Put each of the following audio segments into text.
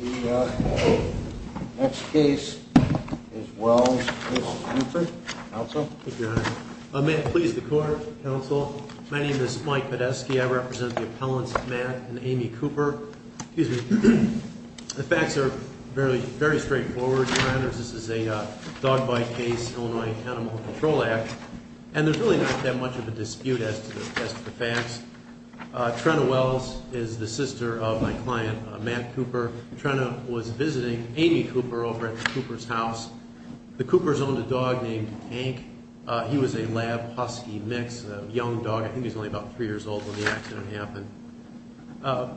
The next case is Wells v. Cooper. Counsel? Thank you, Your Honor. May it please the Court, Counsel? My name is Mike Podesky. I represent the appellants Matt and Amy Cooper. The facts are very straightforward, Your Honors. This is a dog bite case, Illinois Animal Control Act. And there's really not that much of a dispute as to the facts. Trenna Wells is the sister of my client, Matt Cooper. Trenna was visiting Amy Cooper over at Cooper's house. The Coopers owned a dog named Hank. He was a lab husky mix, a young dog. I think he was only about three years old when the accident happened.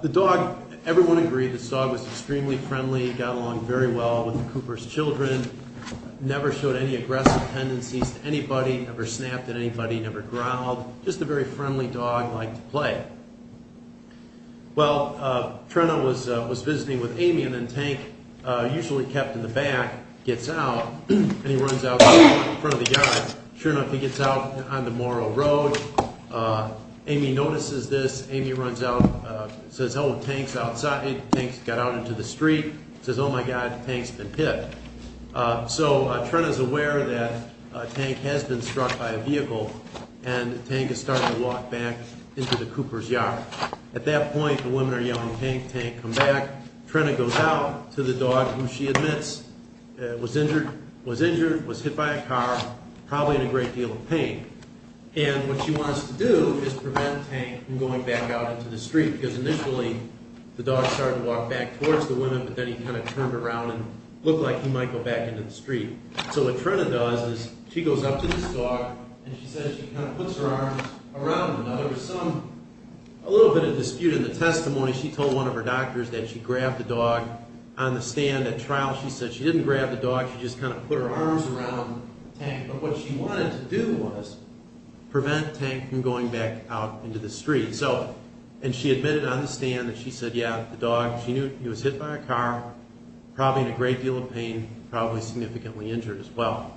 The dog, everyone agreed, this dog was extremely friendly, got along very well with the Coopers' children, never showed any aggressive tendencies to anybody, never snapped at anybody, never growled. Just a very friendly dog, liked to play. Well, Trenna was visiting with Amy, and then Hank, usually kept in the back, gets out, and he runs out in front of the guys. Sure enough, he gets out on the Morrow Road. Amy notices this. Amy runs out, says, Oh, Hank's outside. Hank's got out into the street. Says, Oh, my God, Hank's been picked. So Trenna's aware that Hank has been struck by a vehicle, and Hank is starting to walk back into the Coopers' yard. At that point, the women are yelling, Hank, Hank, come back. Trenna goes out to the dog, who she admits was injured, was hit by a car, probably in a great deal of pain. And what she wants to do is prevent Hank from going back out into the street, because initially the dog started to walk back towards the women, but then he kind of turned around and looked like he might go back into the street. So what Trenna does is she goes up to this dog, and she says she kind of puts her arms around him. Now, there was some, a little bit of dispute in the testimony. She told one of her doctors that she grabbed the dog on the stand at trial. She said she didn't grab the dog. She just kind of put her arms around Hank. But what she wanted to do was prevent Hank from going back out into the street. So, and she admitted on the stand that she said, yeah, the dog, she knew he was hit by a car, probably in a great deal of pain, probably significantly injured as well.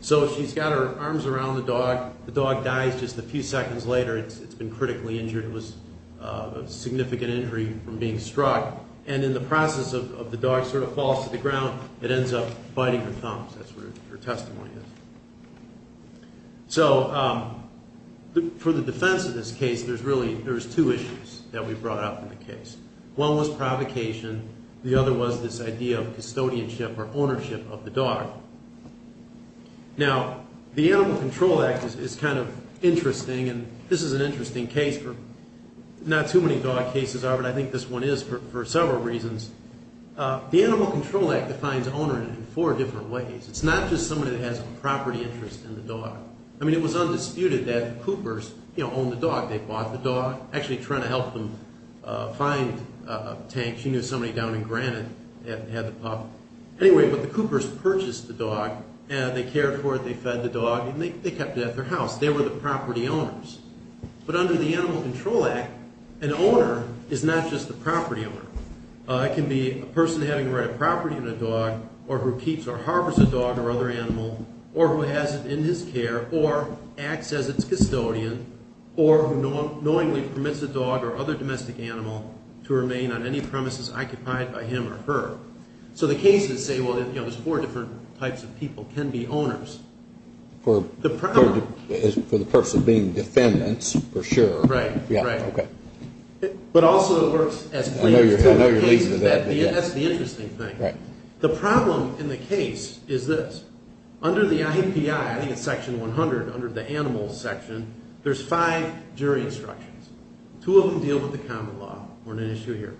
So she's got her arms around the dog. The dog dies just a few seconds later. It's been critically injured. It was a significant injury from being struck. And in the process of the dog sort of falls to the ground, it ends up biting her thumbs. That's what her testimony is. So for the defense of this case, there's really, there's two issues that we brought up in the case. One was provocation. The other was this idea of custodianship or ownership of the dog. Now, the Animal Control Act is kind of interesting, and this is an interesting case for, not too many dog cases are, but I think this one is for several reasons. The Animal Control Act defines owner in four different ways. It's not just somebody that has a property interest in the dog. I mean, it was undisputed that the Coopers owned the dog. They bought the dog, actually trying to help them find Hank. She knew somebody down in Granite had the pup. Anyway, but the Coopers purchased the dog, and they cared for it, they fed the dog, and they kept it at their house. They were the property owners. But under the Animal Control Act, an owner is not just the property owner. It can be a person having the right of property in a dog, or who keeps or harbors a dog or other animal, or who has it in his care, or acts as its custodian, or who knowingly permits a dog or other domestic animal to remain on any premises occupied by him or her. So the cases say, well, there's four different types of people can be owners. For the purpose of being defendants, for sure. Right, right. Okay. But also it works as claims. I know you're leading to that. That's the interesting thing. Right. The problem in the case is this. Under the IAPI, I think it's section 100, under the animals section, there's five jury instructions. Two of them deal with the common law. We're on an issue here.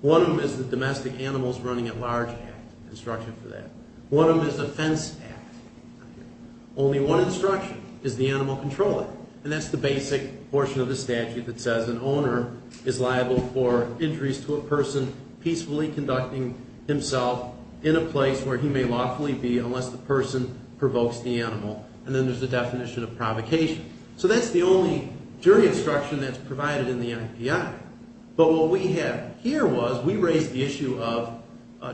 One of them is the Domestic Animals Running at Large Act. Instruction for that. One of them is the Fence Act. Only one instruction is the Animal Control Act, and that's the basic portion of the statute that says an owner is liable for injuries to a person peacefully conducting himself in a place where he may lawfully be unless the person provokes the animal, and then there's the definition of provocation. So that's the only jury instruction that's provided in the IAPI. But what we have here was we raised the issue of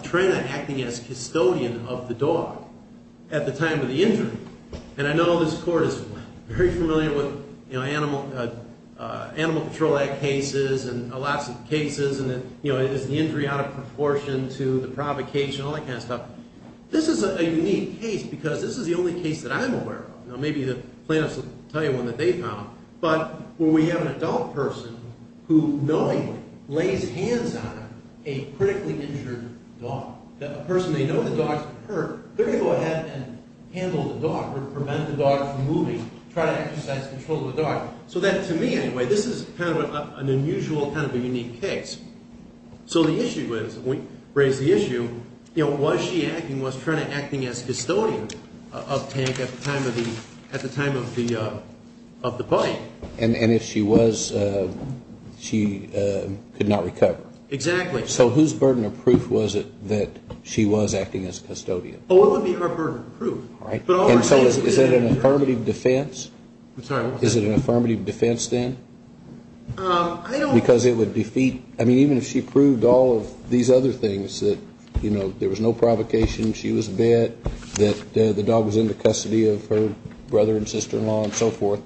Trina acting as custodian of the dog at the time of the injury, and I know this court is very familiar with Animal Control Act cases and lots of cases and, you know, is the injury out of proportion to the provocation, all that kind of stuff. This is a unique case because this is the only case that I'm aware of. Maybe the plaintiffs will tell you one that they found, but when we have an adult person who knowingly lays hands on a critically injured dog, a person they know the dog's been hurt, they're going to go ahead and handle the dog or prevent the dog from moving, try to exercise control of the dog. So that to me, anyway, this is kind of an unusual, kind of a unique case. And was she acting, was Trina acting as custodian of Tank at the time of the bite? And if she was, she could not recover. Exactly. So whose burden of proof was it that she was acting as custodian? Oh, it would be her burden of proof. And so is it an affirmative defense? I'm sorry, what was that? Is it an affirmative defense then? I don't know. Because it would defeat, I mean, even if she proved all of these other things that, you know, there was no provocation, she was bit, that the dog was under custody of her brother and sister-in-law and so forth,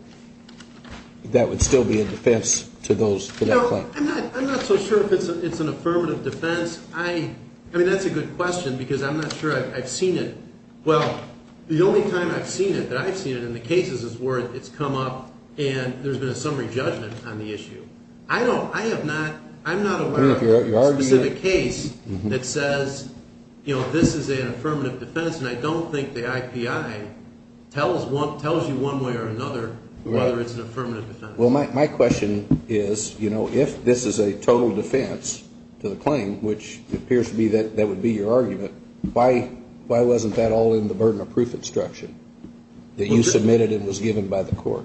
that would still be a defense to that claim. I'm not so sure if it's an affirmative defense. I mean, that's a good question because I'm not sure I've seen it. Well, the only time I've seen it that I've seen it in the cases is where it's come up and there's been a summary judgment on the issue. I don't, I have not, I'm not aware of a specific case that says, you know, this is an affirmative defense, and I don't think the IPI tells you one way or another whether it's an affirmative defense. Well, my question is, you know, if this is a total defense to the claim, which appears to me that that would be your argument, why wasn't that all in the burden of proof instruction that you submitted and was given by the court?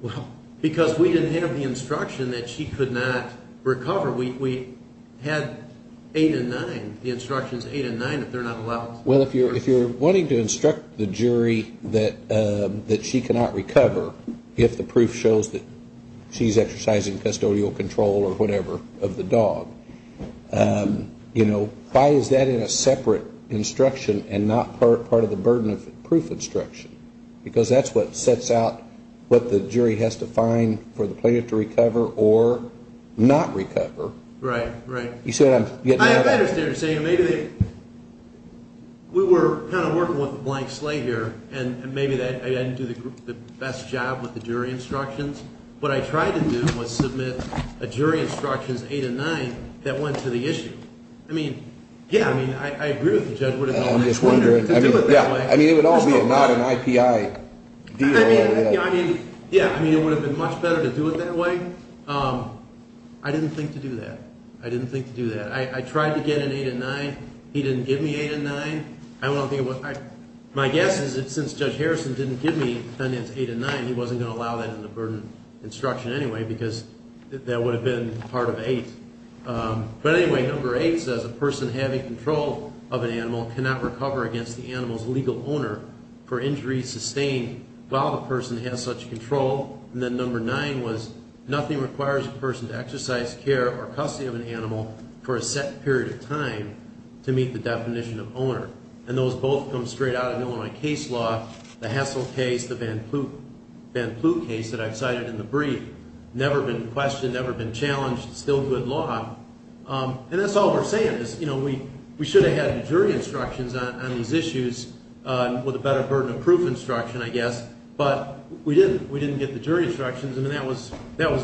Well, because we didn't have the instruction that she could not recover. We had eight and nine, the instructions, eight and nine, if they're not allowed. Well, if you're wanting to instruct the jury that she cannot recover if the proof shows that she's exercising custodial control or whatever of the dog, you know, why is that in a separate instruction and not part of the burden of proof instruction? Because that's what sets out what the jury has to find for the plaintiff to recover or not recover. Right, right. You see what I'm getting at? I understand what you're saying. Maybe they, we were kind of working with a blank slate here, and maybe I didn't do the best job with the jury instructions. What I tried to do was submit a jury instructions, eight and nine, that went to the issue. I mean, yeah, I mean, I agree with the judge. I mean, it would all be not an IPI deal. I mean, yeah, I mean, it would have been much better to do it that way. I didn't think to do that. I didn't think to do that. I tried to get an eight and nine. He didn't give me eight and nine. My guess is that since Judge Harrison didn't give me Tenant's eight and nine, he wasn't going to allow that in the burden instruction anyway because that would have been part of eight. But anyway, number eight says, a person having control of an animal cannot recover against the animal's legal owner for injuries sustained while the person has such control. And then number nine was, nothing requires a person to exercise care or custody of an animal for a set period of time to meet the definition of owner. And those both come straight out of Illinois case law, the Hessel case, the Van Ploegh case that I've cited in the brief, never been questioned, never been challenged, still good law. And that's all we're saying is, you know, we should have had jury instructions on these issues with a better burden of proof instruction, I guess. But we didn't. We didn't get the jury instructions. I mean, that was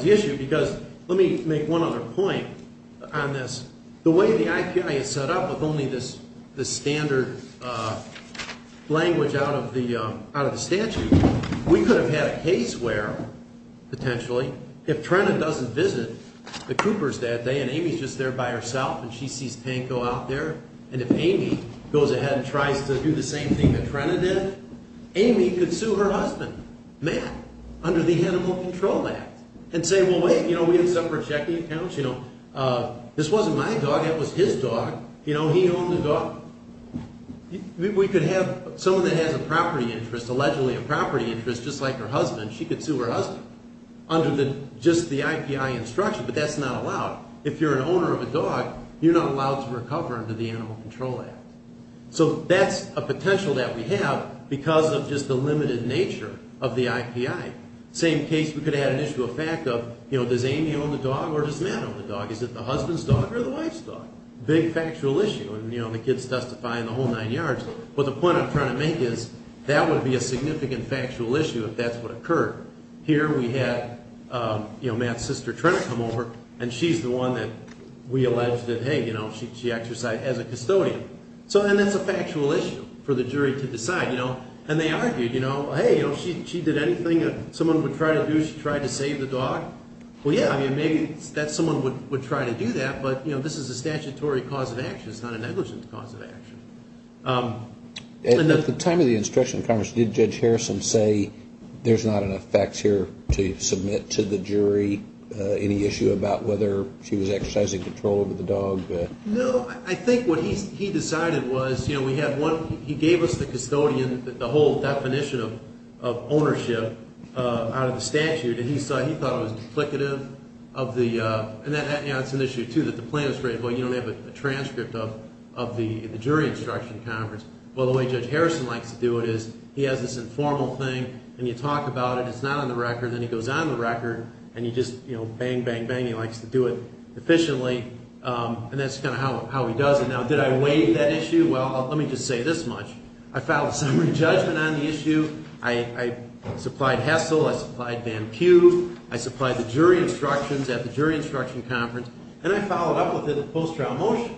the issue because let me make one other point on this. The way the IPI is set up with only this standard language out of the statute, we could have had a case where, potentially, if Trenna doesn't visit the Coopers that day and Amy's just there by herself and she sees Panko out there, and if Amy goes ahead and tries to do the same thing that Trenna did, Amy could sue her husband, Matt, under the Animal Control Act and say, well, wait, you know, we have separate checking accounts, you know. This wasn't my dog. That was his dog. You know, he owned the dog. We could have someone that has a property interest, allegedly a property interest, just like her husband, she could sue her husband under just the IPI instruction, but that's not allowed. If you're an owner of a dog, you're not allowed to recover under the Animal Control Act. So that's a potential that we have because of just the limited nature of the IPI. Same case, we could have had an issue of fact of, you know, does Amy own the dog or does Matt own the dog? Is it the husband's dog or the wife's dog? Big factual issue, and, you know, the kids testify in the whole nine yards. But the point I'm trying to make is that would be a significant factual issue if that's what occurred. Here we had, you know, Matt's sister Trenna come over, and she's the one that we alleged that, hey, you know, she exercised as a custodian. And that's a factual issue for the jury to decide, you know. And they argued, you know, hey, you know, she did anything that someone would try to do. She tried to save the dog. Well, yeah, I mean, maybe someone would try to do that, but, you know, this is a statutory cause of action. It's not a negligent cause of action. At the time of the instruction in Congress, did Judge Harrison say there's not enough facts here to submit to the jury, any issue about whether she was exercising control over the dog? No. I think what he decided was, you know, we had one – he gave us the custodian, the whole definition of ownership out of the statute, and he thought it was duplicative of the – and that's an issue, too, that the plaintiff's right. Well, you don't have a transcript of the jury instruction conference. Well, the way Judge Harrison likes to do it is he has this informal thing, and you talk about it. It's not on the record. Then he goes on the record, and you just, you know, bang, bang, bang. He likes to do it efficiently. And that's kind of how he does it. Now, did I waive that issue? Well, let me just say this much. I filed a summary judgment on the issue. I supplied HESL. I supplied Van Cue. I supplied the jury instructions at the jury instruction conference, and I followed up with it in post-trial motion.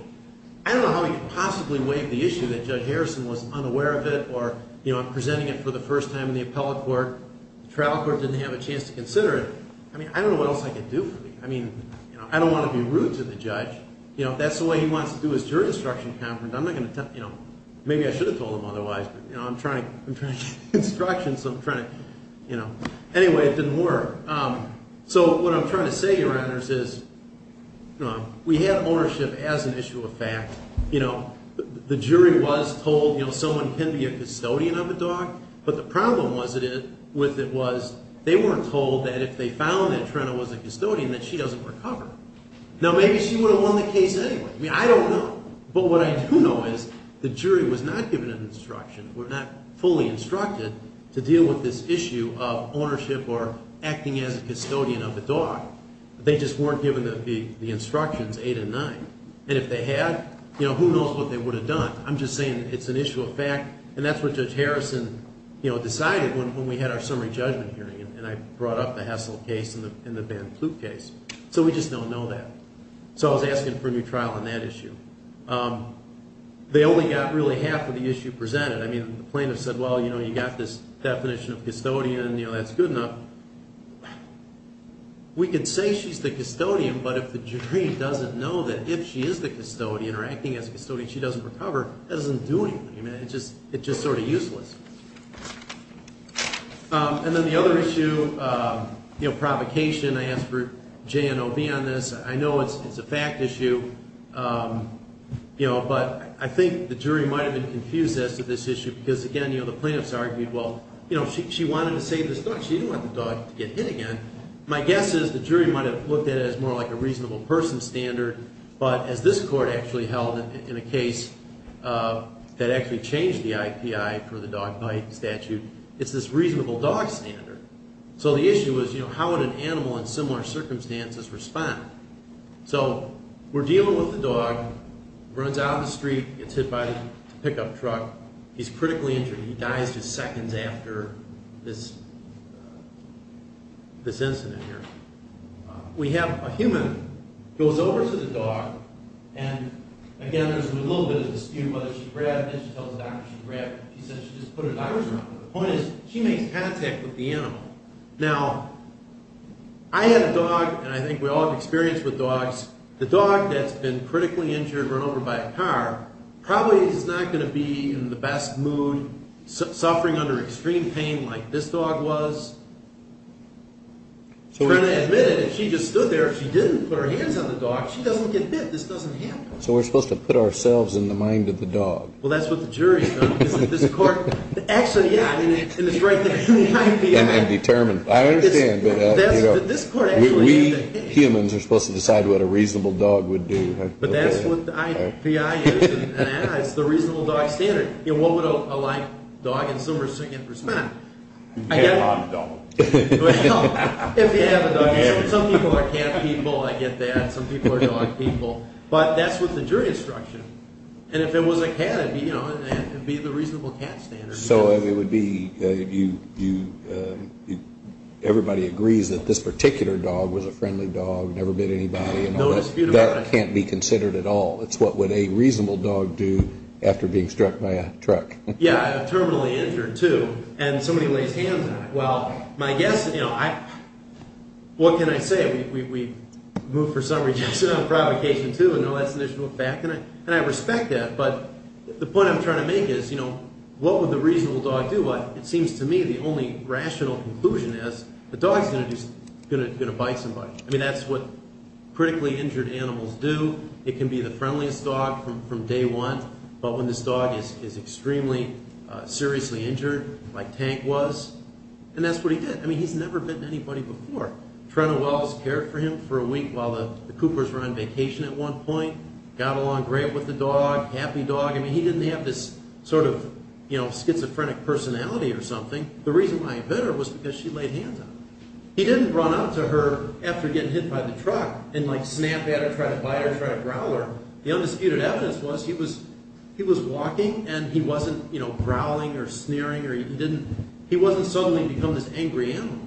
I don't know how he could possibly waive the issue that Judge Harrison was unaware of it or, you know, I'm presenting it for the first time in the appellate court. The trial court didn't have a chance to consider it. I mean, I don't know what else I could do for you. I mean, you know, I don't want to be rude to the judge. You know, if that's the way he wants to do his jury instruction conference, I'm not going to tell – you know, maybe I should have told him otherwise, but, you know, I'm trying to get instructions, so I'm trying to, you know. Anyway, it didn't work. So what I'm trying to say, Your Honors, is we had ownership as an issue of fact. You know, the jury was told, you know, someone can be a custodian of a dog, but the problem with it was they weren't told that if they found that Trina was a custodian that she doesn't recover. Now, maybe she would have won the case anyway. I mean, I don't know. But what I do know is the jury was not given an instruction or not fully instructed to deal with this issue of ownership or acting as a custodian of the dog. They just weren't given the instructions 8 and 9. And if they had, you know, who knows what they would have done. I'm just saying it's an issue of fact, and that's what Judge Harrison, you know, decided when we had our summary judgment hearing, and I brought up the Hessel case and the Van Kloot case. So we just don't know that. So I was asking for a new trial on that issue. They only got really half of the issue presented. I mean, the plaintiff said, well, you know, you got this definition of custodian, and, you know, that's good enough. We could say she's the custodian, but if the jury doesn't know that if she is the custodian or acting as a custodian she doesn't recover, that doesn't do anything. I mean, it's just sort of useless. And then the other issue, you know, provocation. I asked for J&OB on this. I know it's a fact issue, you know, but I think the jury might have been confused as to this issue because, again, you know, the plaintiffs argued, well, you know, she wanted to save this dog. She didn't want the dog to get hit again. My guess is the jury might have looked at it as more like a reasonable person standard, but as this court actually held in a case that actually changed the IPI for the dog bite statute, it's this reasonable dog standard. So the issue was, you know, how would an animal in similar circumstances respond? So we're dealing with the dog. Runs out on the street, gets hit by a pickup truck. He's critically injured. He dies just seconds after this incident here. We have a human, goes over to the dog, and, again, there's a little bit of dispute whether she grabbed it. She tells the doctor she grabbed it. She said she just put her dog around it. The point is she makes contact with the animal. Now, I had a dog, and I think we all have experience with dogs. The dog that's been critically injured, run over by a car, probably is not going to be in the best mood, suffering under extreme pain like this dog was. I'm trying to admit it. If she just stood there, if she didn't put her hands on the dog, she doesn't get hit. This doesn't happen. So we're supposed to put ourselves in the mind of the dog. Well, that's what the jury's done. Actually, yeah, in the strength of the IPI. And determine. I understand, but we humans are supposed to decide what a reasonable dog would do. But that's what the IPI is. It's the reasonable dog standard. What would a live dog in some respect? A dog dog. Well, if you have a dog. Some people are cat people, I get that. Some people are dog people. But that's what the jury instruction. And if it was a cat, it would be the reasonable cat standard. So it would be everybody agrees that this particular dog was a friendly dog, never bit anybody. No dispute about it. That can't be considered at all. It's what would a reasonable dog do after being struck by a truck. Yeah, terminally injured, too. And somebody lays hands on it. Well, my guess, what can I say? We move for some rejection on provocation, too. I know that's an initial fact, and I respect that. But the point I'm trying to make is, you know, what would the reasonable dog do? It seems to me the only rational conclusion is the dog's going to bite somebody. I mean, that's what critically injured animals do. It can be the friendliest dog from day one. But when this dog is extremely seriously injured, like Tank was, and that's what he did. I mean, he's never bitten anybody before. Trina Wells cared for him for a week while the Coopers were on vacation at one point. Got along great with the dog, happy dog. I mean, he didn't have this sort of, you know, schizophrenic personality or something. The reason why he bit her was because she laid hands on him. He didn't run up to her after getting hit by the truck and, like, snap at her, try to bite her, try to growl her. The undisputed evidence was he was walking, and he wasn't, you know, growling or sneering or he didn't. He wasn't suddenly become this angry animal.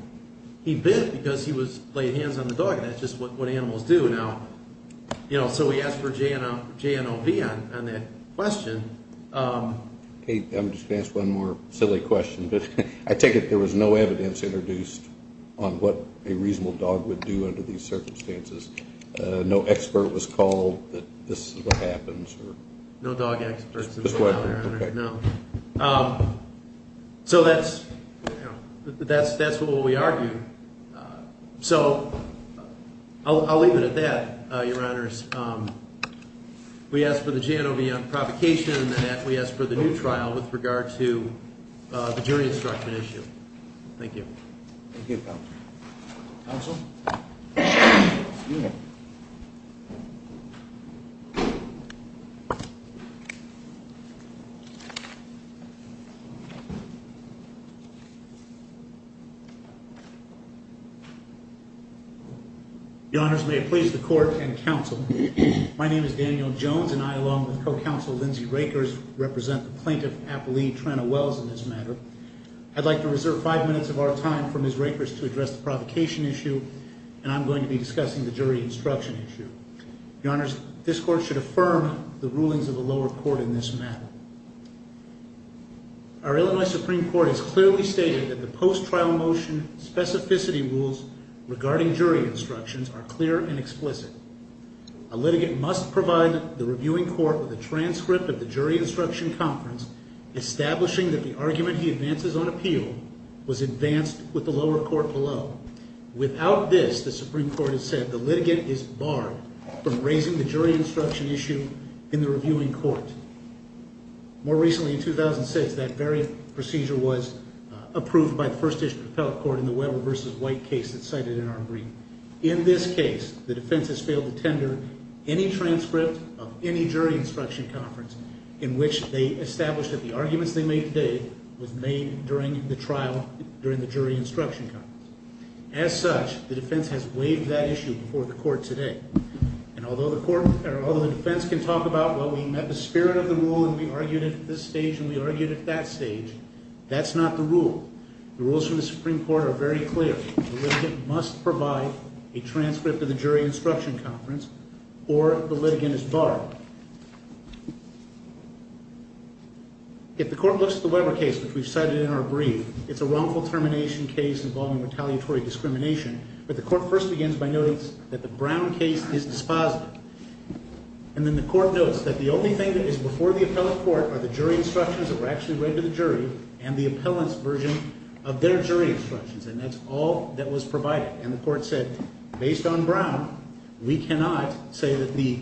He bit because he was laying hands on the dog, and that's just what animals do now. You know, so we asked for JNOV on that question. I'm just going to ask one more silly question. I take it there was no evidence introduced on what a reasonable dog would do under these circumstances. No expert was called that this is what happens. No dog experts. No. So that's, you know, that's what we argued. So I'll leave it at that, Your Honors. We asked for the JNOV on provocation, and then we asked for the new trial with regard to the jury instruction issue. Thank you. Thank you, Counsel. Counsel? Excuse me. Your Honors, may it please the Court and Counsel. My name is Daniel Jones, and I, along with Co-Counsel Lindsay Rakers, represent the Plaintiff Appellee Tranna Wells in this matter. I'd like to reserve five minutes of our time for Ms. Rakers to address the provocation issue, and I'm going to be discussing the jury instruction issue. Your Honors, this Court should affirm the rulings of the lower court in this matter. Our Illinois Supreme Court has clearly stated that the post-trial motion specificity rules regarding jury instructions are clear and explicit. A litigant must provide the reviewing court with a transcript of the jury instruction conference, establishing that the argument he advances on appeal was advanced with the lower court below. Without this, the Supreme Court has said, the litigant is barred from raising the jury instruction issue in the reviewing court. More recently, in 2006, that very procedure was approved by the First District Appellate Court in the Weber v. White case that's cited in our brief. In this case, the defense has failed to tender any transcript of any jury instruction conference in which they established that the arguments they made today was made during the trial during the jury instruction conference. As such, the defense has waived that issue before the court today. And although the defense can talk about, well, we met the spirit of the rule and we argued at this stage and we argued at that stage, that's not the rule. The rules from the Supreme Court are very clear. The litigant must provide a transcript of the jury instruction conference or the litigant is barred. If the court looks at the Weber case, which we've cited in our brief, it's a wrongful termination case involving retaliatory discrimination. But the court first begins by noting that the Brown case is dispositive. And then the court notes that the only thing that is before the appellate court are the jury instructions that were actually read to the jury and the appellant's version of their jury instructions. And that's all that was provided. And the court said, based on Brown, we cannot say that the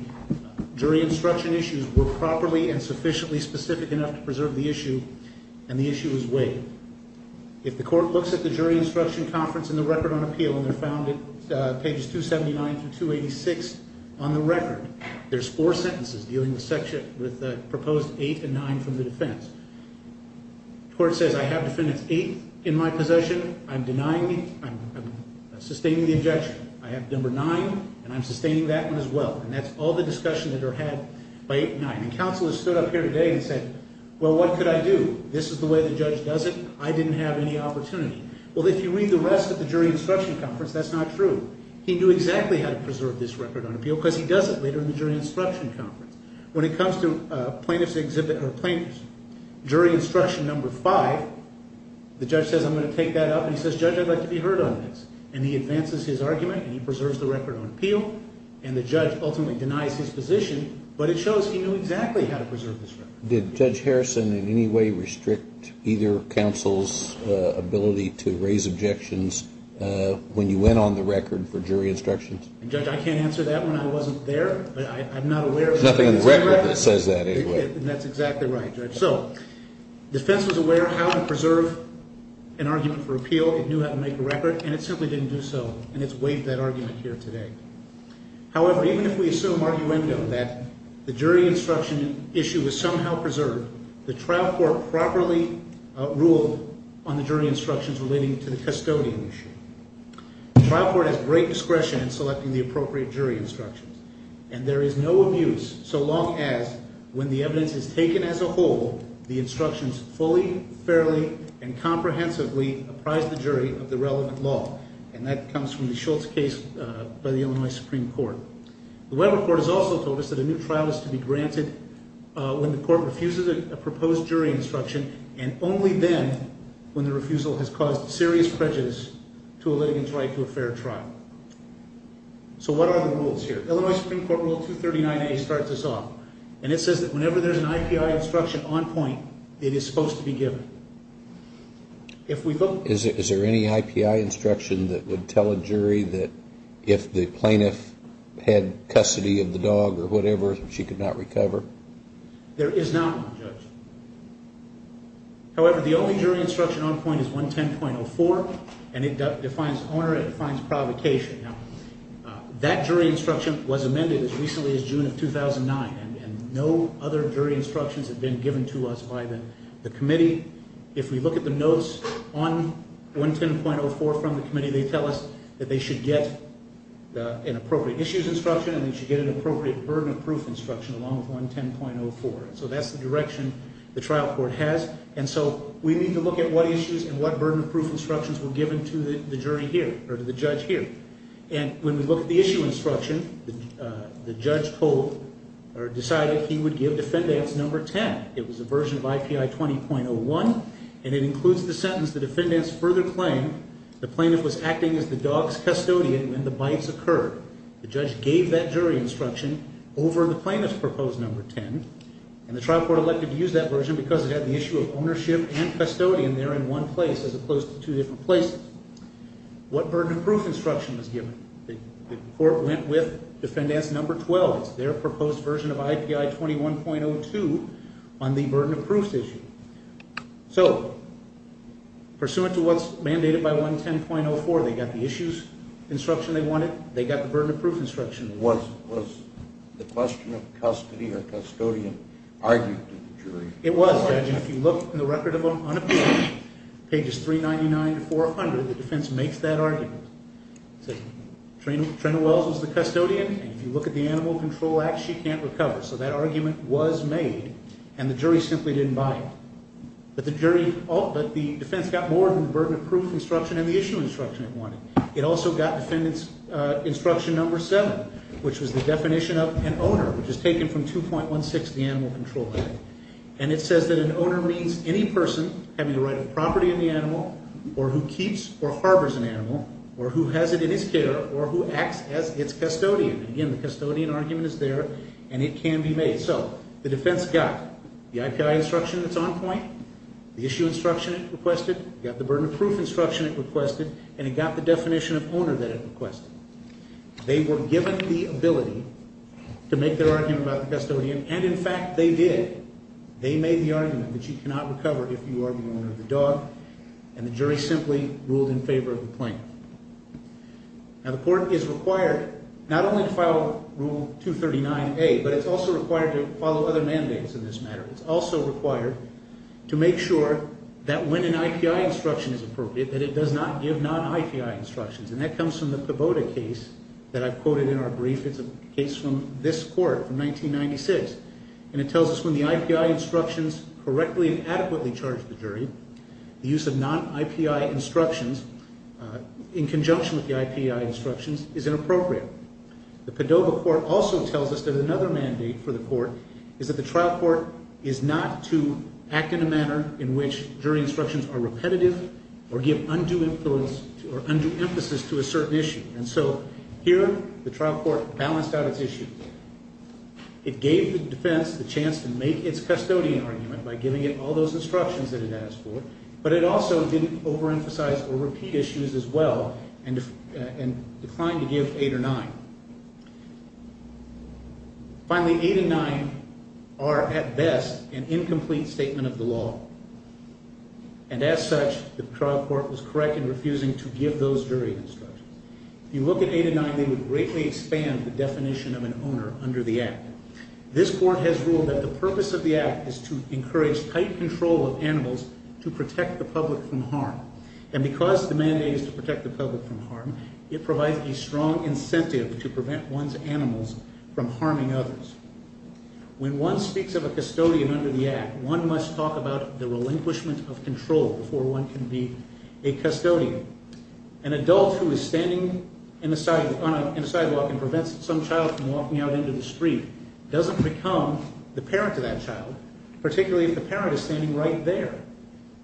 jury instruction issues were properly and sufficiently specific enough to preserve the issue, and the issue is waived. If the court looks at the jury instruction conference and the record on appeal, and they're found at pages 279 through 286 on the record, there's four sentences dealing with proposed eight and nine from the defense. The court says, I have defendants eight in my possession. I'm denying me. I'm sustaining the objection. I have number nine, and I'm sustaining that one as well. And that's all the discussion that are had by eight and nine. And counsel has stood up here today and said, well, what could I do? This is the way the judge does it. I didn't have any opportunity. Well, if you read the rest of the jury instruction conference, that's not true. He knew exactly how to preserve this record on appeal because he does it later in the jury instruction conference. When it comes to plaintiff's jury instruction number five, the judge says, I'm going to take that up, and he says, Judge, I'd like to be heard on this. And he advances his argument, and he preserves the record on appeal, and the judge ultimately denies his position, but it shows he knew exactly how to preserve this record. Did Judge Harrison in any way restrict either counsel's ability to raise objections when you went on the record for jury instructions? Judge, I can't answer that one. I wasn't there. There's nothing on the record that says that anyway. That's exactly right, Judge. So defense was aware how to preserve an argument for appeal. It knew how to make a record, and it simply didn't do so, and it's waived that argument here today. However, even if we assume arguendo that the jury instruction issue was somehow preserved, the trial court properly ruled on the jury instructions relating to the custodian issue. The trial court has great discretion in selecting the appropriate jury instructions, and there is no abuse so long as when the evidence is taken as a whole, the instructions fully, fairly, and comprehensively apprise the jury of the relevant law, and that comes from the Schultz case by the Illinois Supreme Court. The Weber Court has also told us that a new trial is to be granted when the court refuses a proposed jury instruction and only then when the refusal has caused serious prejudice to a litigant's right to a fair trial. So what are the rules here? Illinois Supreme Court Rule 239A starts us off, and it says that whenever there's an IPI instruction on point, it is supposed to be given. Is there any IPI instruction that would tell a jury that if the plaintiff had custody of the dog or whatever, she could not recover? There is not one, Judge. However, the only jury instruction on point is 110.04, and it defines honor and it defines provocation. Now, that jury instruction was amended as recently as June of 2009, and no other jury instructions have been given to us by the committee. If we look at the notes on 110.04 from the committee, they tell us that they should get an appropriate issues instruction and they should get an appropriate burden of proof instruction along with 110.04. So that's the direction the trial court has, and so we need to look at what issues and what burden of proof instructions were given to the jury here or to the judge here. And when we look at the issue instruction, the judge decided he would give defendants number 10. It was a version of IPI 20.01, and it includes the sentence, the defendants further claim the plaintiff was acting as the dog's custodian when the bites occurred. The judge gave that jury instruction over the plaintiff's proposed number 10, and the trial court elected to use that version because it had the issue of ownership and custodian there in one place as opposed to two different places. What burden of proof instruction was given? The court went with defendants number 12. It's their proposed version of IPI 21.02 on the burden of proofs issue. So pursuant to what's mandated by 110.04, they got the issues instruction they wanted. They got the burden of proof instruction they wanted. Was the question of custody or custodian argued to the jury? It was, judge. If you look in the record of unappeal, pages 399 to 400, the defense makes that argument. It says Trina Wells was the custodian, and if you look at the Animal Control Act, she can't recover. So that argument was made, and the jury simply didn't buy it. But the defense got more than the burden of proof instruction and the issue instruction it wanted. It also got defendant's instruction number 7, which was the definition of an owner, which is taken from 2.16 of the Animal Control Act. And it says that an owner means any person having the right of property in the animal or who keeps or harbors an animal or who has it in his care or who acts as its custodian. Again, the custodian argument is there, and it can be made. So the defense got the IPI instruction that's on point, the issue instruction it requested, got the burden of proof instruction it requested, and it got the definition of owner that it requested. They were given the ability to make their argument about the custodian, and in fact they did. They made the argument that you cannot recover if you are the owner of the dog, and the jury simply ruled in favor of the claim. Now, the court is required not only to file Rule 239A, but it's also required to follow other mandates in this matter. It's also required to make sure that when an IPI instruction is appropriate that it does not give non-IPI instructions, and that comes from the Poboda case that I've quoted in our brief. It's a case from this court from 1996, and it tells us when the IPI instructions correctly and adequately charge the jury, the use of non-IPI instructions in conjunction with the IPI instructions is inappropriate. The Padova court also tells us that another mandate for the court is that the trial court is not to act in a manner in which jury instructions are repetitive or give undue influence or undue emphasis to a certain issue, and so here the trial court balanced out its issues. It gave the defense the chance to make its custodian argument by giving it all those instructions that it asked for, but it also didn't overemphasize or repeat issues as well and declined to give 8 or 9. Finally, 8 and 9 are at best an incomplete statement of the law, and as such, the trial court was correct in refusing to give those jury instructions. If you look at 8 and 9, they would greatly expand the definition of an owner under the Act. This court has ruled that the purpose of the Act is to encourage tight control of animals to protect the public from harm, and because the mandate is to protect the public from harm, it provides a strong incentive to prevent one's animals from harming others. When one speaks of a custodian under the Act, one must talk about the relinquishment of control before one can be a custodian. An adult who is standing on a sidewalk and prevents some child from walking out into the street doesn't become the parent of that child, particularly if the parent is standing right there.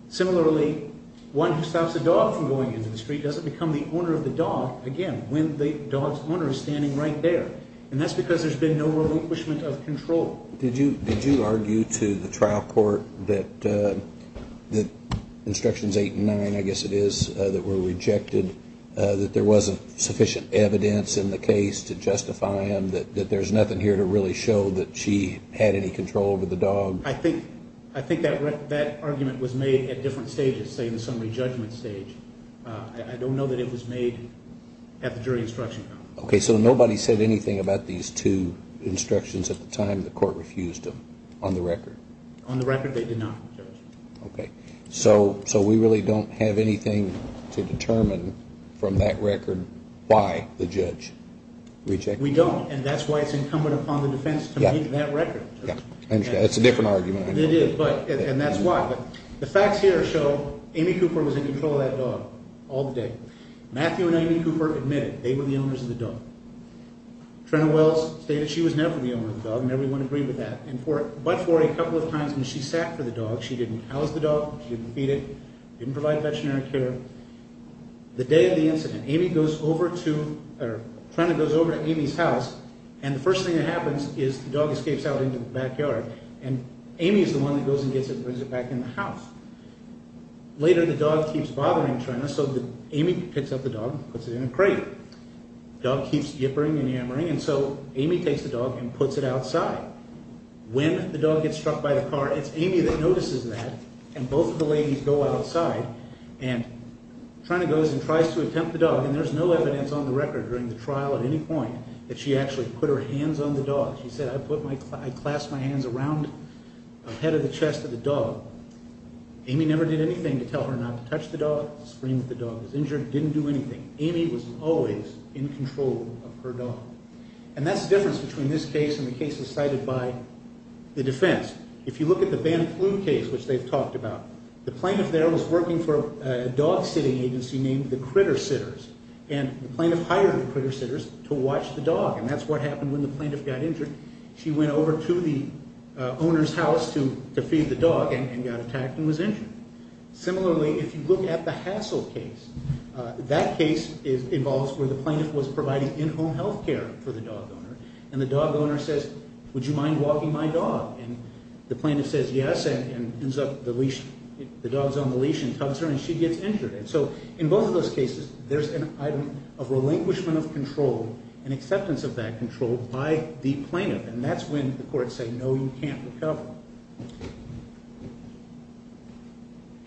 Similarly, one who stops a dog from going into the street doesn't become the owner of the dog, again, when the dog's owner is standing right there, and that's because there's been no relinquishment of control. Did you argue to the trial court that instructions 8 and 9, I guess it is, that were rejected, that there wasn't sufficient evidence in the case to justify them, that there's nothing here to really show that she had any control over the dog? I think that argument was made at different stages, say in the summary judgment stage. I don't know that it was made at the jury instruction court. Okay, so nobody said anything about these two instructions at the time the court refused them on the record? On the record, they did not, Judge. Okay, so we really don't have anything to determine from that record why the judge rejected them? We don't, and that's why it's incumbent upon the defense to make that record. Yeah, I understand. That's a different argument. It is, and that's why. The facts here show Amy Cooper was in control of that dog all day. Matthew and Amy Cooper admitted they were the owners of the dog. Trenna Wells stated she was never the owner of the dog, and everyone agreed with that. But for a couple of times when she sat for the dog, she didn't house the dog, she didn't feed it, didn't provide veterinary care. The day of the incident, Amy goes over to, or Trenna goes over to Amy's house, and the first thing that happens is the dog escapes out into the backyard, and Amy is the one that goes and gets it and brings it back in the house. Later, the dog keeps bothering Trenna, so Amy picks up the dog and puts it in a crate. The dog keeps yippering and yammering, and so Amy takes the dog and puts it outside. When the dog gets struck by the car, it's Amy that notices that, and both of the ladies go outside, and Trenna goes and tries to attempt the dog, and there's no evidence on the record during the trial at any point that she actually put her hands on the dog. She said, I clasped my hands around the head of the chest of the dog. Amy never did anything to tell her not to touch the dog, to scream that the dog was injured, didn't do anything. Amy was always in control of her dog. And that's the difference between this case and the cases cited by the defense. If you look at the Ban Flu case, which they've talked about, the plaintiff there was working for a dog-sitting agency named the Critter Sitters, and the plaintiff hired the Critter Sitters to watch the dog, and that's what happened when the plaintiff got injured. She went over to the owner's house to feed the dog and got attacked and was injured. Similarly, if you look at the Hassell case, that case involves where the plaintiff was providing in-home health care for the dog owner, and the dog owner says, would you mind walking my dog? And the plaintiff says yes and pulls up the leash, the dog's on the leash and tugs her, and she gets injured. And so in both of those cases, there's an item of relinquishment of control and acceptance of that control by the plaintiff, and that's when the courts say, no, you can't recover.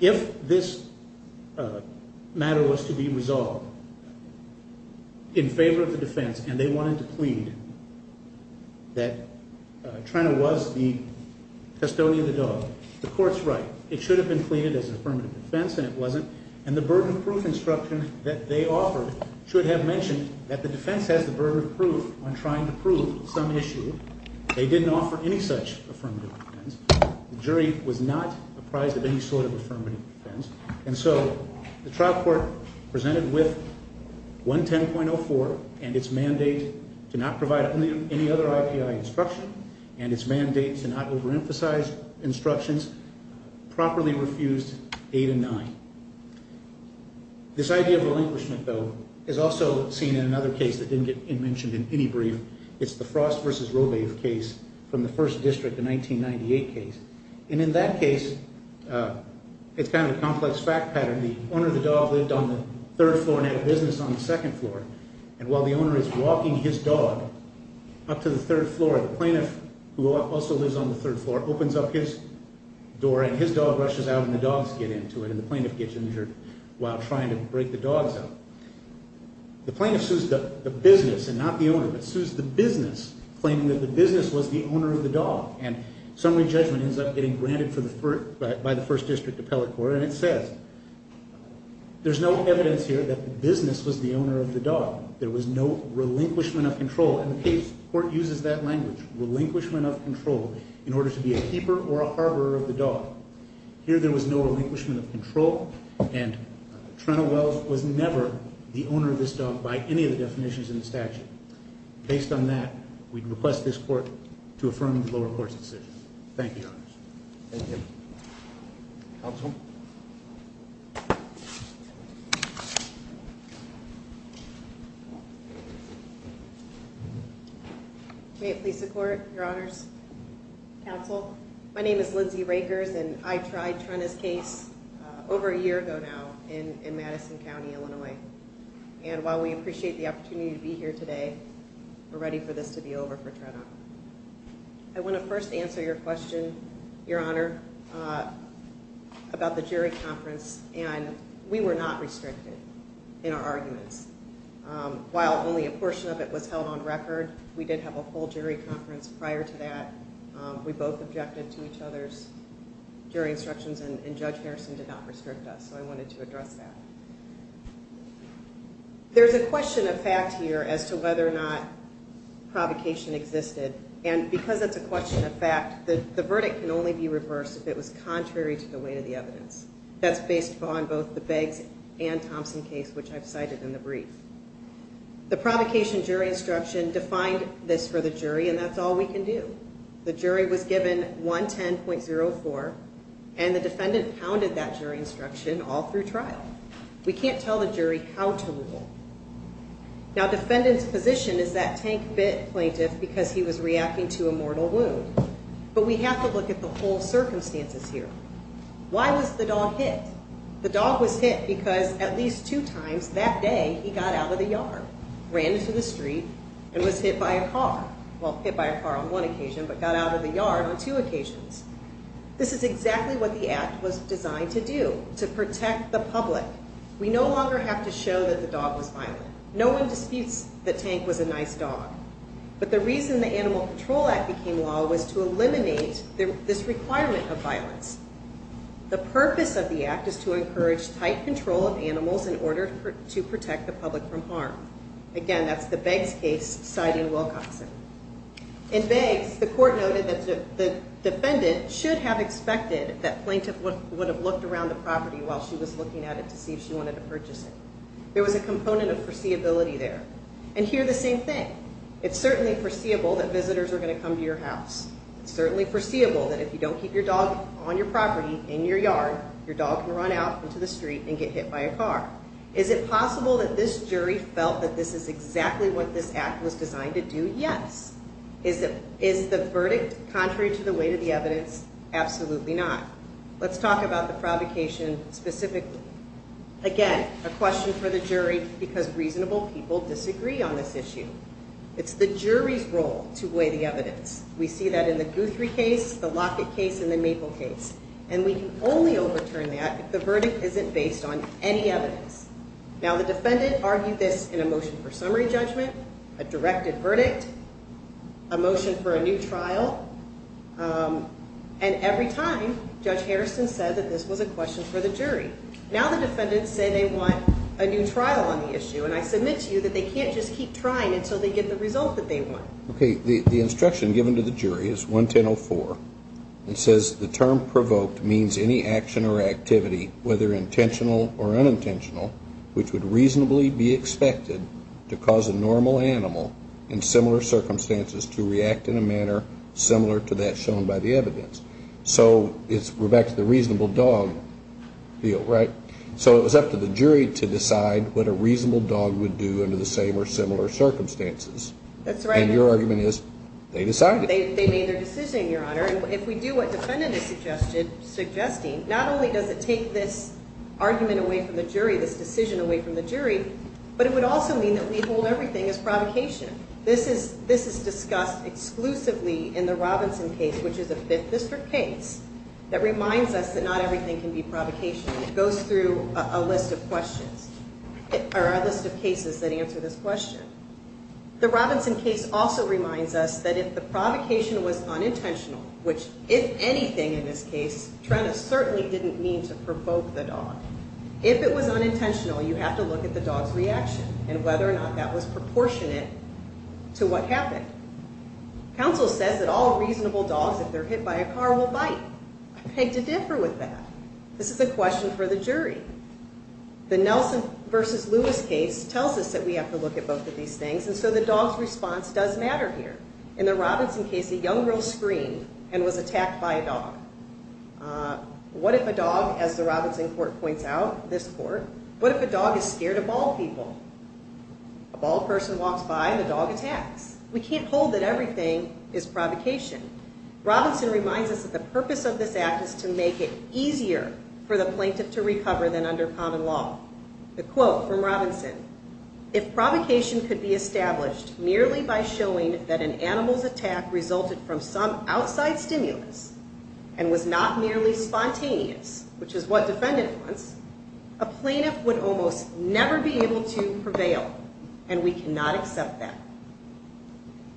If this matter was to be resolved in favor of the defense and they wanted to plead that Trina was the custodian of the dog, the court's right. It should have been pleaded as an affirmative defense, and it wasn't. And the burden of proof instruction that they offered should have mentioned that the defense has the burden of proof on trying to prove some issue. They didn't offer any such affirmative defense. The jury was not apprised of any sort of affirmative defense. And so the trial court presented with 110.04 and its mandate to not provide any other IPI instruction and its mandate to not overemphasize instructions properly refused 8 and 9. This idea of relinquishment, though, is also seen in another case that didn't get mentioned in any brief. It's the Frost v. Robave case from the first district, the 1998 case. And in that case, it's kind of a complex fact pattern. The owner of the dog lived on the third floor and had a business on the second floor. And while the owner is walking his dog up to the third floor, the plaintiff, who also lives on the third floor, opens up his door, and his dog rushes out and the dogs get into it, and the plaintiff gets injured while trying to break the dogs up. The plaintiff sues the business and not the owner, but sues the business, claiming that the business was the owner of the dog. And summary judgment ends up getting granted by the first district appellate court. And it says, there's no evidence here that the business was the owner of the dog. There was no relinquishment of control. And the case court uses that language, relinquishment of control, in order to be a keeper or a harborer of the dog. Here there was no relinquishment of control, and Trentel Wells was never the owner of this dog by any of the definitions in the statute. Based on that, we'd request this court to affirm the lower court's decision. Thank you. Thank you. Counsel? May it please the court, your honors, counsel, my name is Lindsay Rakers, and I tried Trenta's case over a year ago now in Madison County, Illinois. And while we appreciate the opportunity to be here today, we're ready for this to be over for Trenta. I want to first answer your question, your honor, about the jury conference. And we were not restricted in our arguments. While only a portion of it was held on record, we did have a full jury conference prior to that. We both objected to each other's jury instructions, and Judge Harrison did not restrict us, so I wanted to address that. There's a question of fact here as to whether or not provocation existed. And because it's a question of fact, the verdict can only be reversed if it was contrary to the weight of the evidence. That's based upon both the Beggs and Thompson case, which I've cited in the brief. The provocation jury instruction defined this for the jury, and that's all we can do. The jury was given 110.04, and the defendant pounded that jury instruction all through trial. We can't tell the jury how to rule. Now, defendant's position is that Tank bit plaintiff because he was reacting to a mortal wound. But we have to look at the whole circumstances here. Why was the dog hit? The dog was hit because at least two times that day he got out of the yard, ran into the street, and was hit by a car. Well, hit by a car on one occasion, but got out of the yard on two occasions. This is exactly what the Act was designed to do, to protect the public. We no longer have to show that the dog was violent. No one disputes that Tank was a nice dog. But the reason the Animal Control Act became law was to eliminate this requirement of violence. The purpose of the Act is to encourage tight control of animals in order to protect the public from harm. Again, that's the Beggs case, citing Wilcoxon. In Beggs, the court noted that the defendant should have expected that plaintiff would have looked around the property while she was looking at it to see if she wanted to purchase it. There was a component of foreseeability there. And here, the same thing. It's certainly foreseeable that visitors are going to come to your house. It's certainly foreseeable that if you don't keep your dog on your property, in your yard, your dog can run out into the street and get hit by a car. Is it possible that this jury felt that this is exactly what this Act was designed to do? Yes. Is the verdict contrary to the weight of the evidence? Absolutely not. Let's talk about the provocation specifically. Again, a question for the jury because reasonable people disagree on this issue. It's the jury's role to weigh the evidence. We see that in the Guthrie case, the Lockett case, and the Maple case. And we can only overturn that if the verdict isn't based on any evidence. Now, the defendant argued this in a motion for summary judgment, a directed verdict, a motion for a new trial. And every time, Judge Harrison said that this was a question for the jury. Now the defendants say they want a new trial on the issue. And I submit to you that they can't just keep trying until they get the result that they want. Okay. The instruction given to the jury is 110.04. It says the term provoked means any action or activity, whether intentional or unintentional, which would reasonably be expected to cause a normal animal in similar circumstances to react in a manner similar to that shown by the evidence. So we're back to the reasonable dog deal, right? So it was up to the jury to decide what a reasonable dog would do under the same or similar circumstances. That's right. And your argument is they decided. They made their decision, Your Honor, and if we do what the defendant is suggesting, not only does it take this argument away from the jury, this decision away from the jury, but it would also mean that we hold everything as provocation. This is discussed exclusively in the Robinson case, which is a Fifth District case, that reminds us that not everything can be provocation. It goes through a list of questions or a list of cases that answer this question. The Robinson case also reminds us that if the provocation was unintentional, which if anything in this case, Trenna certainly didn't mean to provoke the dog. If it was unintentional, you have to look at the dog's reaction and whether or not that was proportionate to what happened. Counsel says that all reasonable dogs, if they're hit by a car, will bite. I beg to differ with that. This is a question for the jury. The Nelson v. Lewis case tells us that we have to look at both of these things, and so the dog's response does matter here. In the Robinson case, a young girl screamed and was attacked by a dog. What if a dog, as the Robinson court points out, this court, what if a dog is scared of bald people? A bald person walks by and the dog attacks. We can't hold that everything is provocation. Robinson reminds us that the purpose of this act is to make it easier for the plaintiff to recover than under common law. The quote from Robinson, if provocation could be established merely by showing that an animal's attack resulted from some outside stimulus and was not merely spontaneous, which is what defendant wants, a plaintiff would almost never be able to prevail, and we cannot accept that.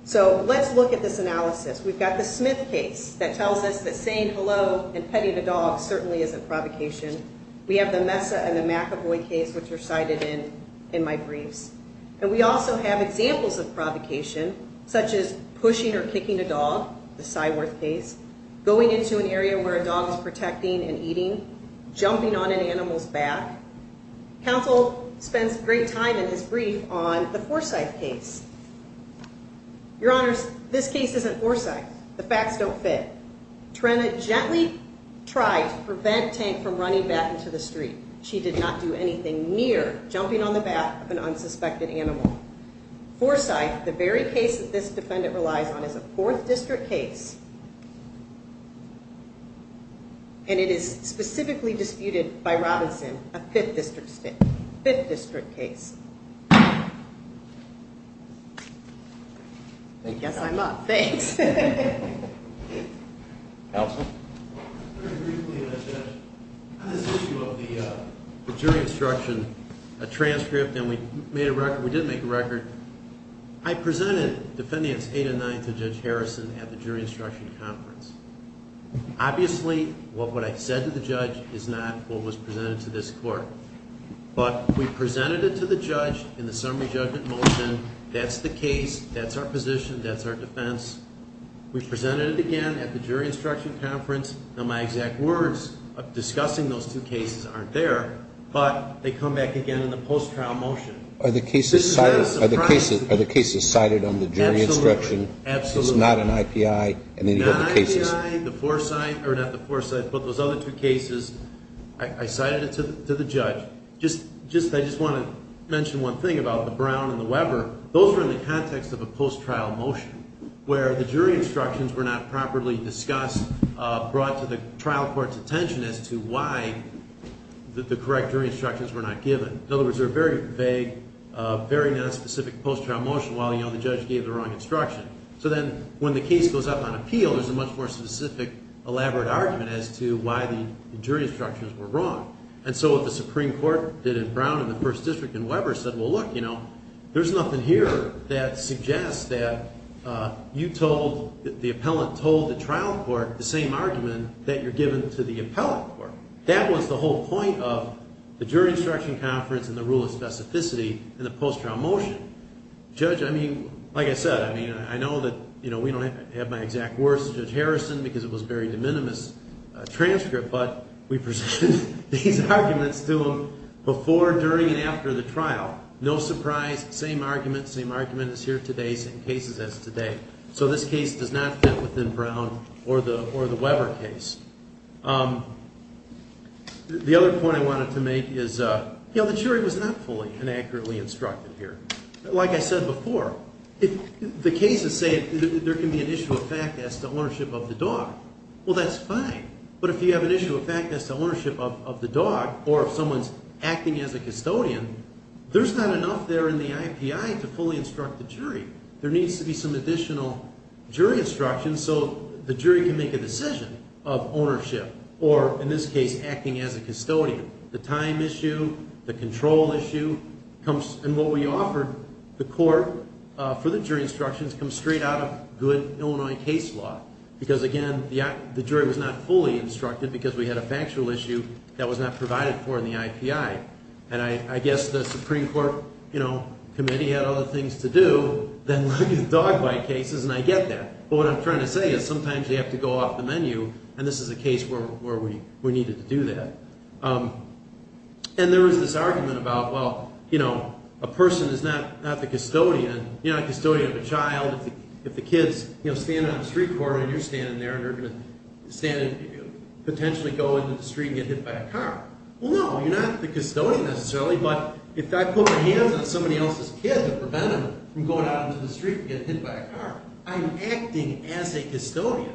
So let's look at this analysis. We've got the Smith case that tells us that saying hello and petting a dog certainly isn't provocation. We have the Mesa and the McAvoy case, which are cited in my briefs, and we also have examples of provocation, such as pushing or kicking a dog, the Cyworth case, going into an area where a dog is protecting and eating, jumping on an animal's back. Counsel spends great time in his brief on the Forsyth case. Your Honors, this case isn't Forsyth. The facts don't fit. Trina gently tried to prevent Tank from running back into the street. She did not do anything near jumping on the back of an unsuspected animal. Forsyth, the very case that this defendant relies on, is a Fourth District case, and it is specifically disputed by Robinson, a Fifth District case. I guess I'm up. Thanks. Counsel? Very briefly, Mr. Judge. On this issue of the jury instruction, a transcript, and we made a record, we did make a record, I presented defendants 8 and 9 to Judge Harrison at the jury instruction conference. Obviously, what I said to the judge is not what was presented to this court, but we presented it to the judge in the summary judgment motion. That's the case, that's our position, that's our defense. We presented it again at the jury instruction conference, and my exact words discussing those two cases aren't there, but they come back again in the post-trial motion. Are the cases cited on the jury instruction? Absolutely. It's not an IPI? Not an IPI, the Forsyth, or not the Forsyth, but those other two cases, I cited it to the judge. I just want to mention one thing about the Brown and the Weber. Those were in the context of a post-trial motion, where the jury instructions were not properly discussed, brought to the trial court's attention as to why the correct jury instructions were not given. In other words, they were very vague, very non-specific post-trial motion, while the judge gave the wrong instruction. So then when the case goes up on appeal, there's a much more specific, elaborate argument as to why the jury instructions were wrong. And so what the Supreme Court did in Brown and the First District and Weber said, well, look, you know, there's nothing here that suggests that you told, the appellant told the trial court the same argument that you're giving to the appellant court. That was the whole point of the jury instruction conference and the rule of specificity in the post-trial motion. Judge, I mean, like I said, I mean, I know that, you know, we don't have my exact words to Judge Harrison because it was a very de minimis transcript, but we presented these arguments to him before, during, and after the trial. No surprise, same argument, same argument is here today, same cases as today. So this case does not fit within Brown or the Weber case. The jury was not fully and accurately instructed here. Like I said before, the cases say there can be an issue of fact as to ownership of the dog. Well, that's fine, but if you have an issue of fact as to ownership of the dog or if someone's acting as a custodian, there's not enough there in the IPI to fully instruct the jury. There needs to be some additional jury instructions so the jury can make a decision of ownership or, in this case, acting as a custodian. The time issue, the control issue, and what we offered the court for the jury instructions comes straight out of good Illinois case law because, again, the jury was not fully instructed because we had a factual issue that was not provided for in the IPI. And I guess the Supreme Court, you know, committee had other things to do than look at dog bite cases, and I get that, but what I'm trying to say is sometimes you have to go off the menu, and this is a case where we needed to do that. And there was this argument about, well, you know, a person is not the custodian. You're not the custodian of a child. If the kid's, you know, standing on a street corner and you're standing there and you're going to stand and potentially go into the street and get hit by a car. Well, no, you're not the custodian necessarily, but if I put my hands on somebody else's kid to prevent him from going out into the street and get hit by a car, I'm acting as a custodian.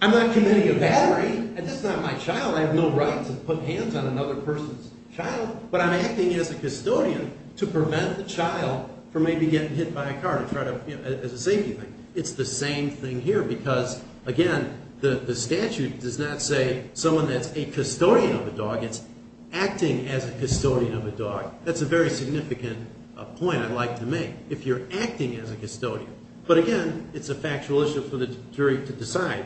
I'm not committing a battery. This is not my child. I have no right to put hands on another person's child, but I'm acting as a custodian to prevent the child from maybe getting hit by a car as a safety thing. It's the same thing here because, again, the statute does not say someone that's a custodian of a dog. It's acting as a custodian of a dog. That's a very significant point I'd like to make if you're acting as a custodian. But, again, it's a factual issue for the jury to decide.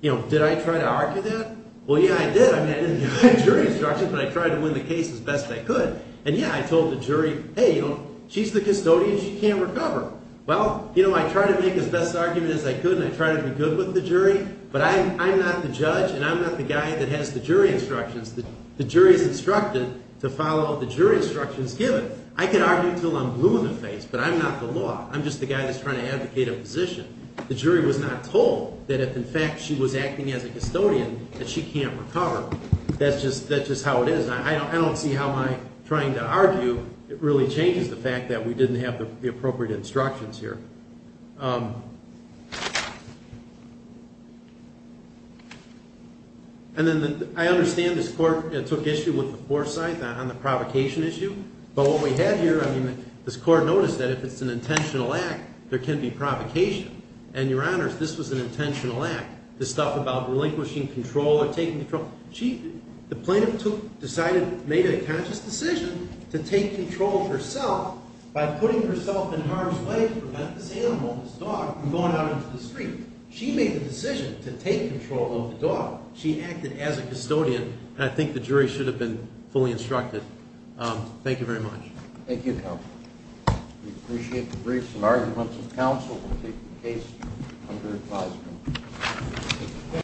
You know, did I try to argue that? Well, yeah, I did. I didn't give my jury instructions, but I tried to win the case as best I could. And, yeah, I told the jury, hey, you know, she's the custodian. She can't recover. Well, you know, I tried to make as best argument as I could and I tried to be good with the jury, but I'm not the judge and I'm not the guy that has the jury instructions. The jury is instructed to follow the jury instructions given. I can argue until I'm blue in the face, but I'm not the law. I'm just the guy that's trying to advocate a position. The jury was not told that if, in fact, she was acting as a custodian that she can't recover. That's just how it is. I don't see how my trying to argue really changes the fact that we didn't have the appropriate instructions here. And then I understand this court took issue with the foresight on the provocation issue. But what we have here, I mean, this court noticed that if it's an intentional act, there can be provocation. And, Your Honors, this was an intentional act. This stuff about relinquishing control or taking control, the plaintiff decided, made a conscious decision to take control of herself by putting herself in harm's way to prevent this animal, this dog, from going out into the street. She made the decision to take control of the dog. She acted as a custodian, and I think the jury should have been fully instructed. Thank you very much. Thank you, Counsel. We appreciate the briefs and arguments of counsel. We'll take the case under advisement.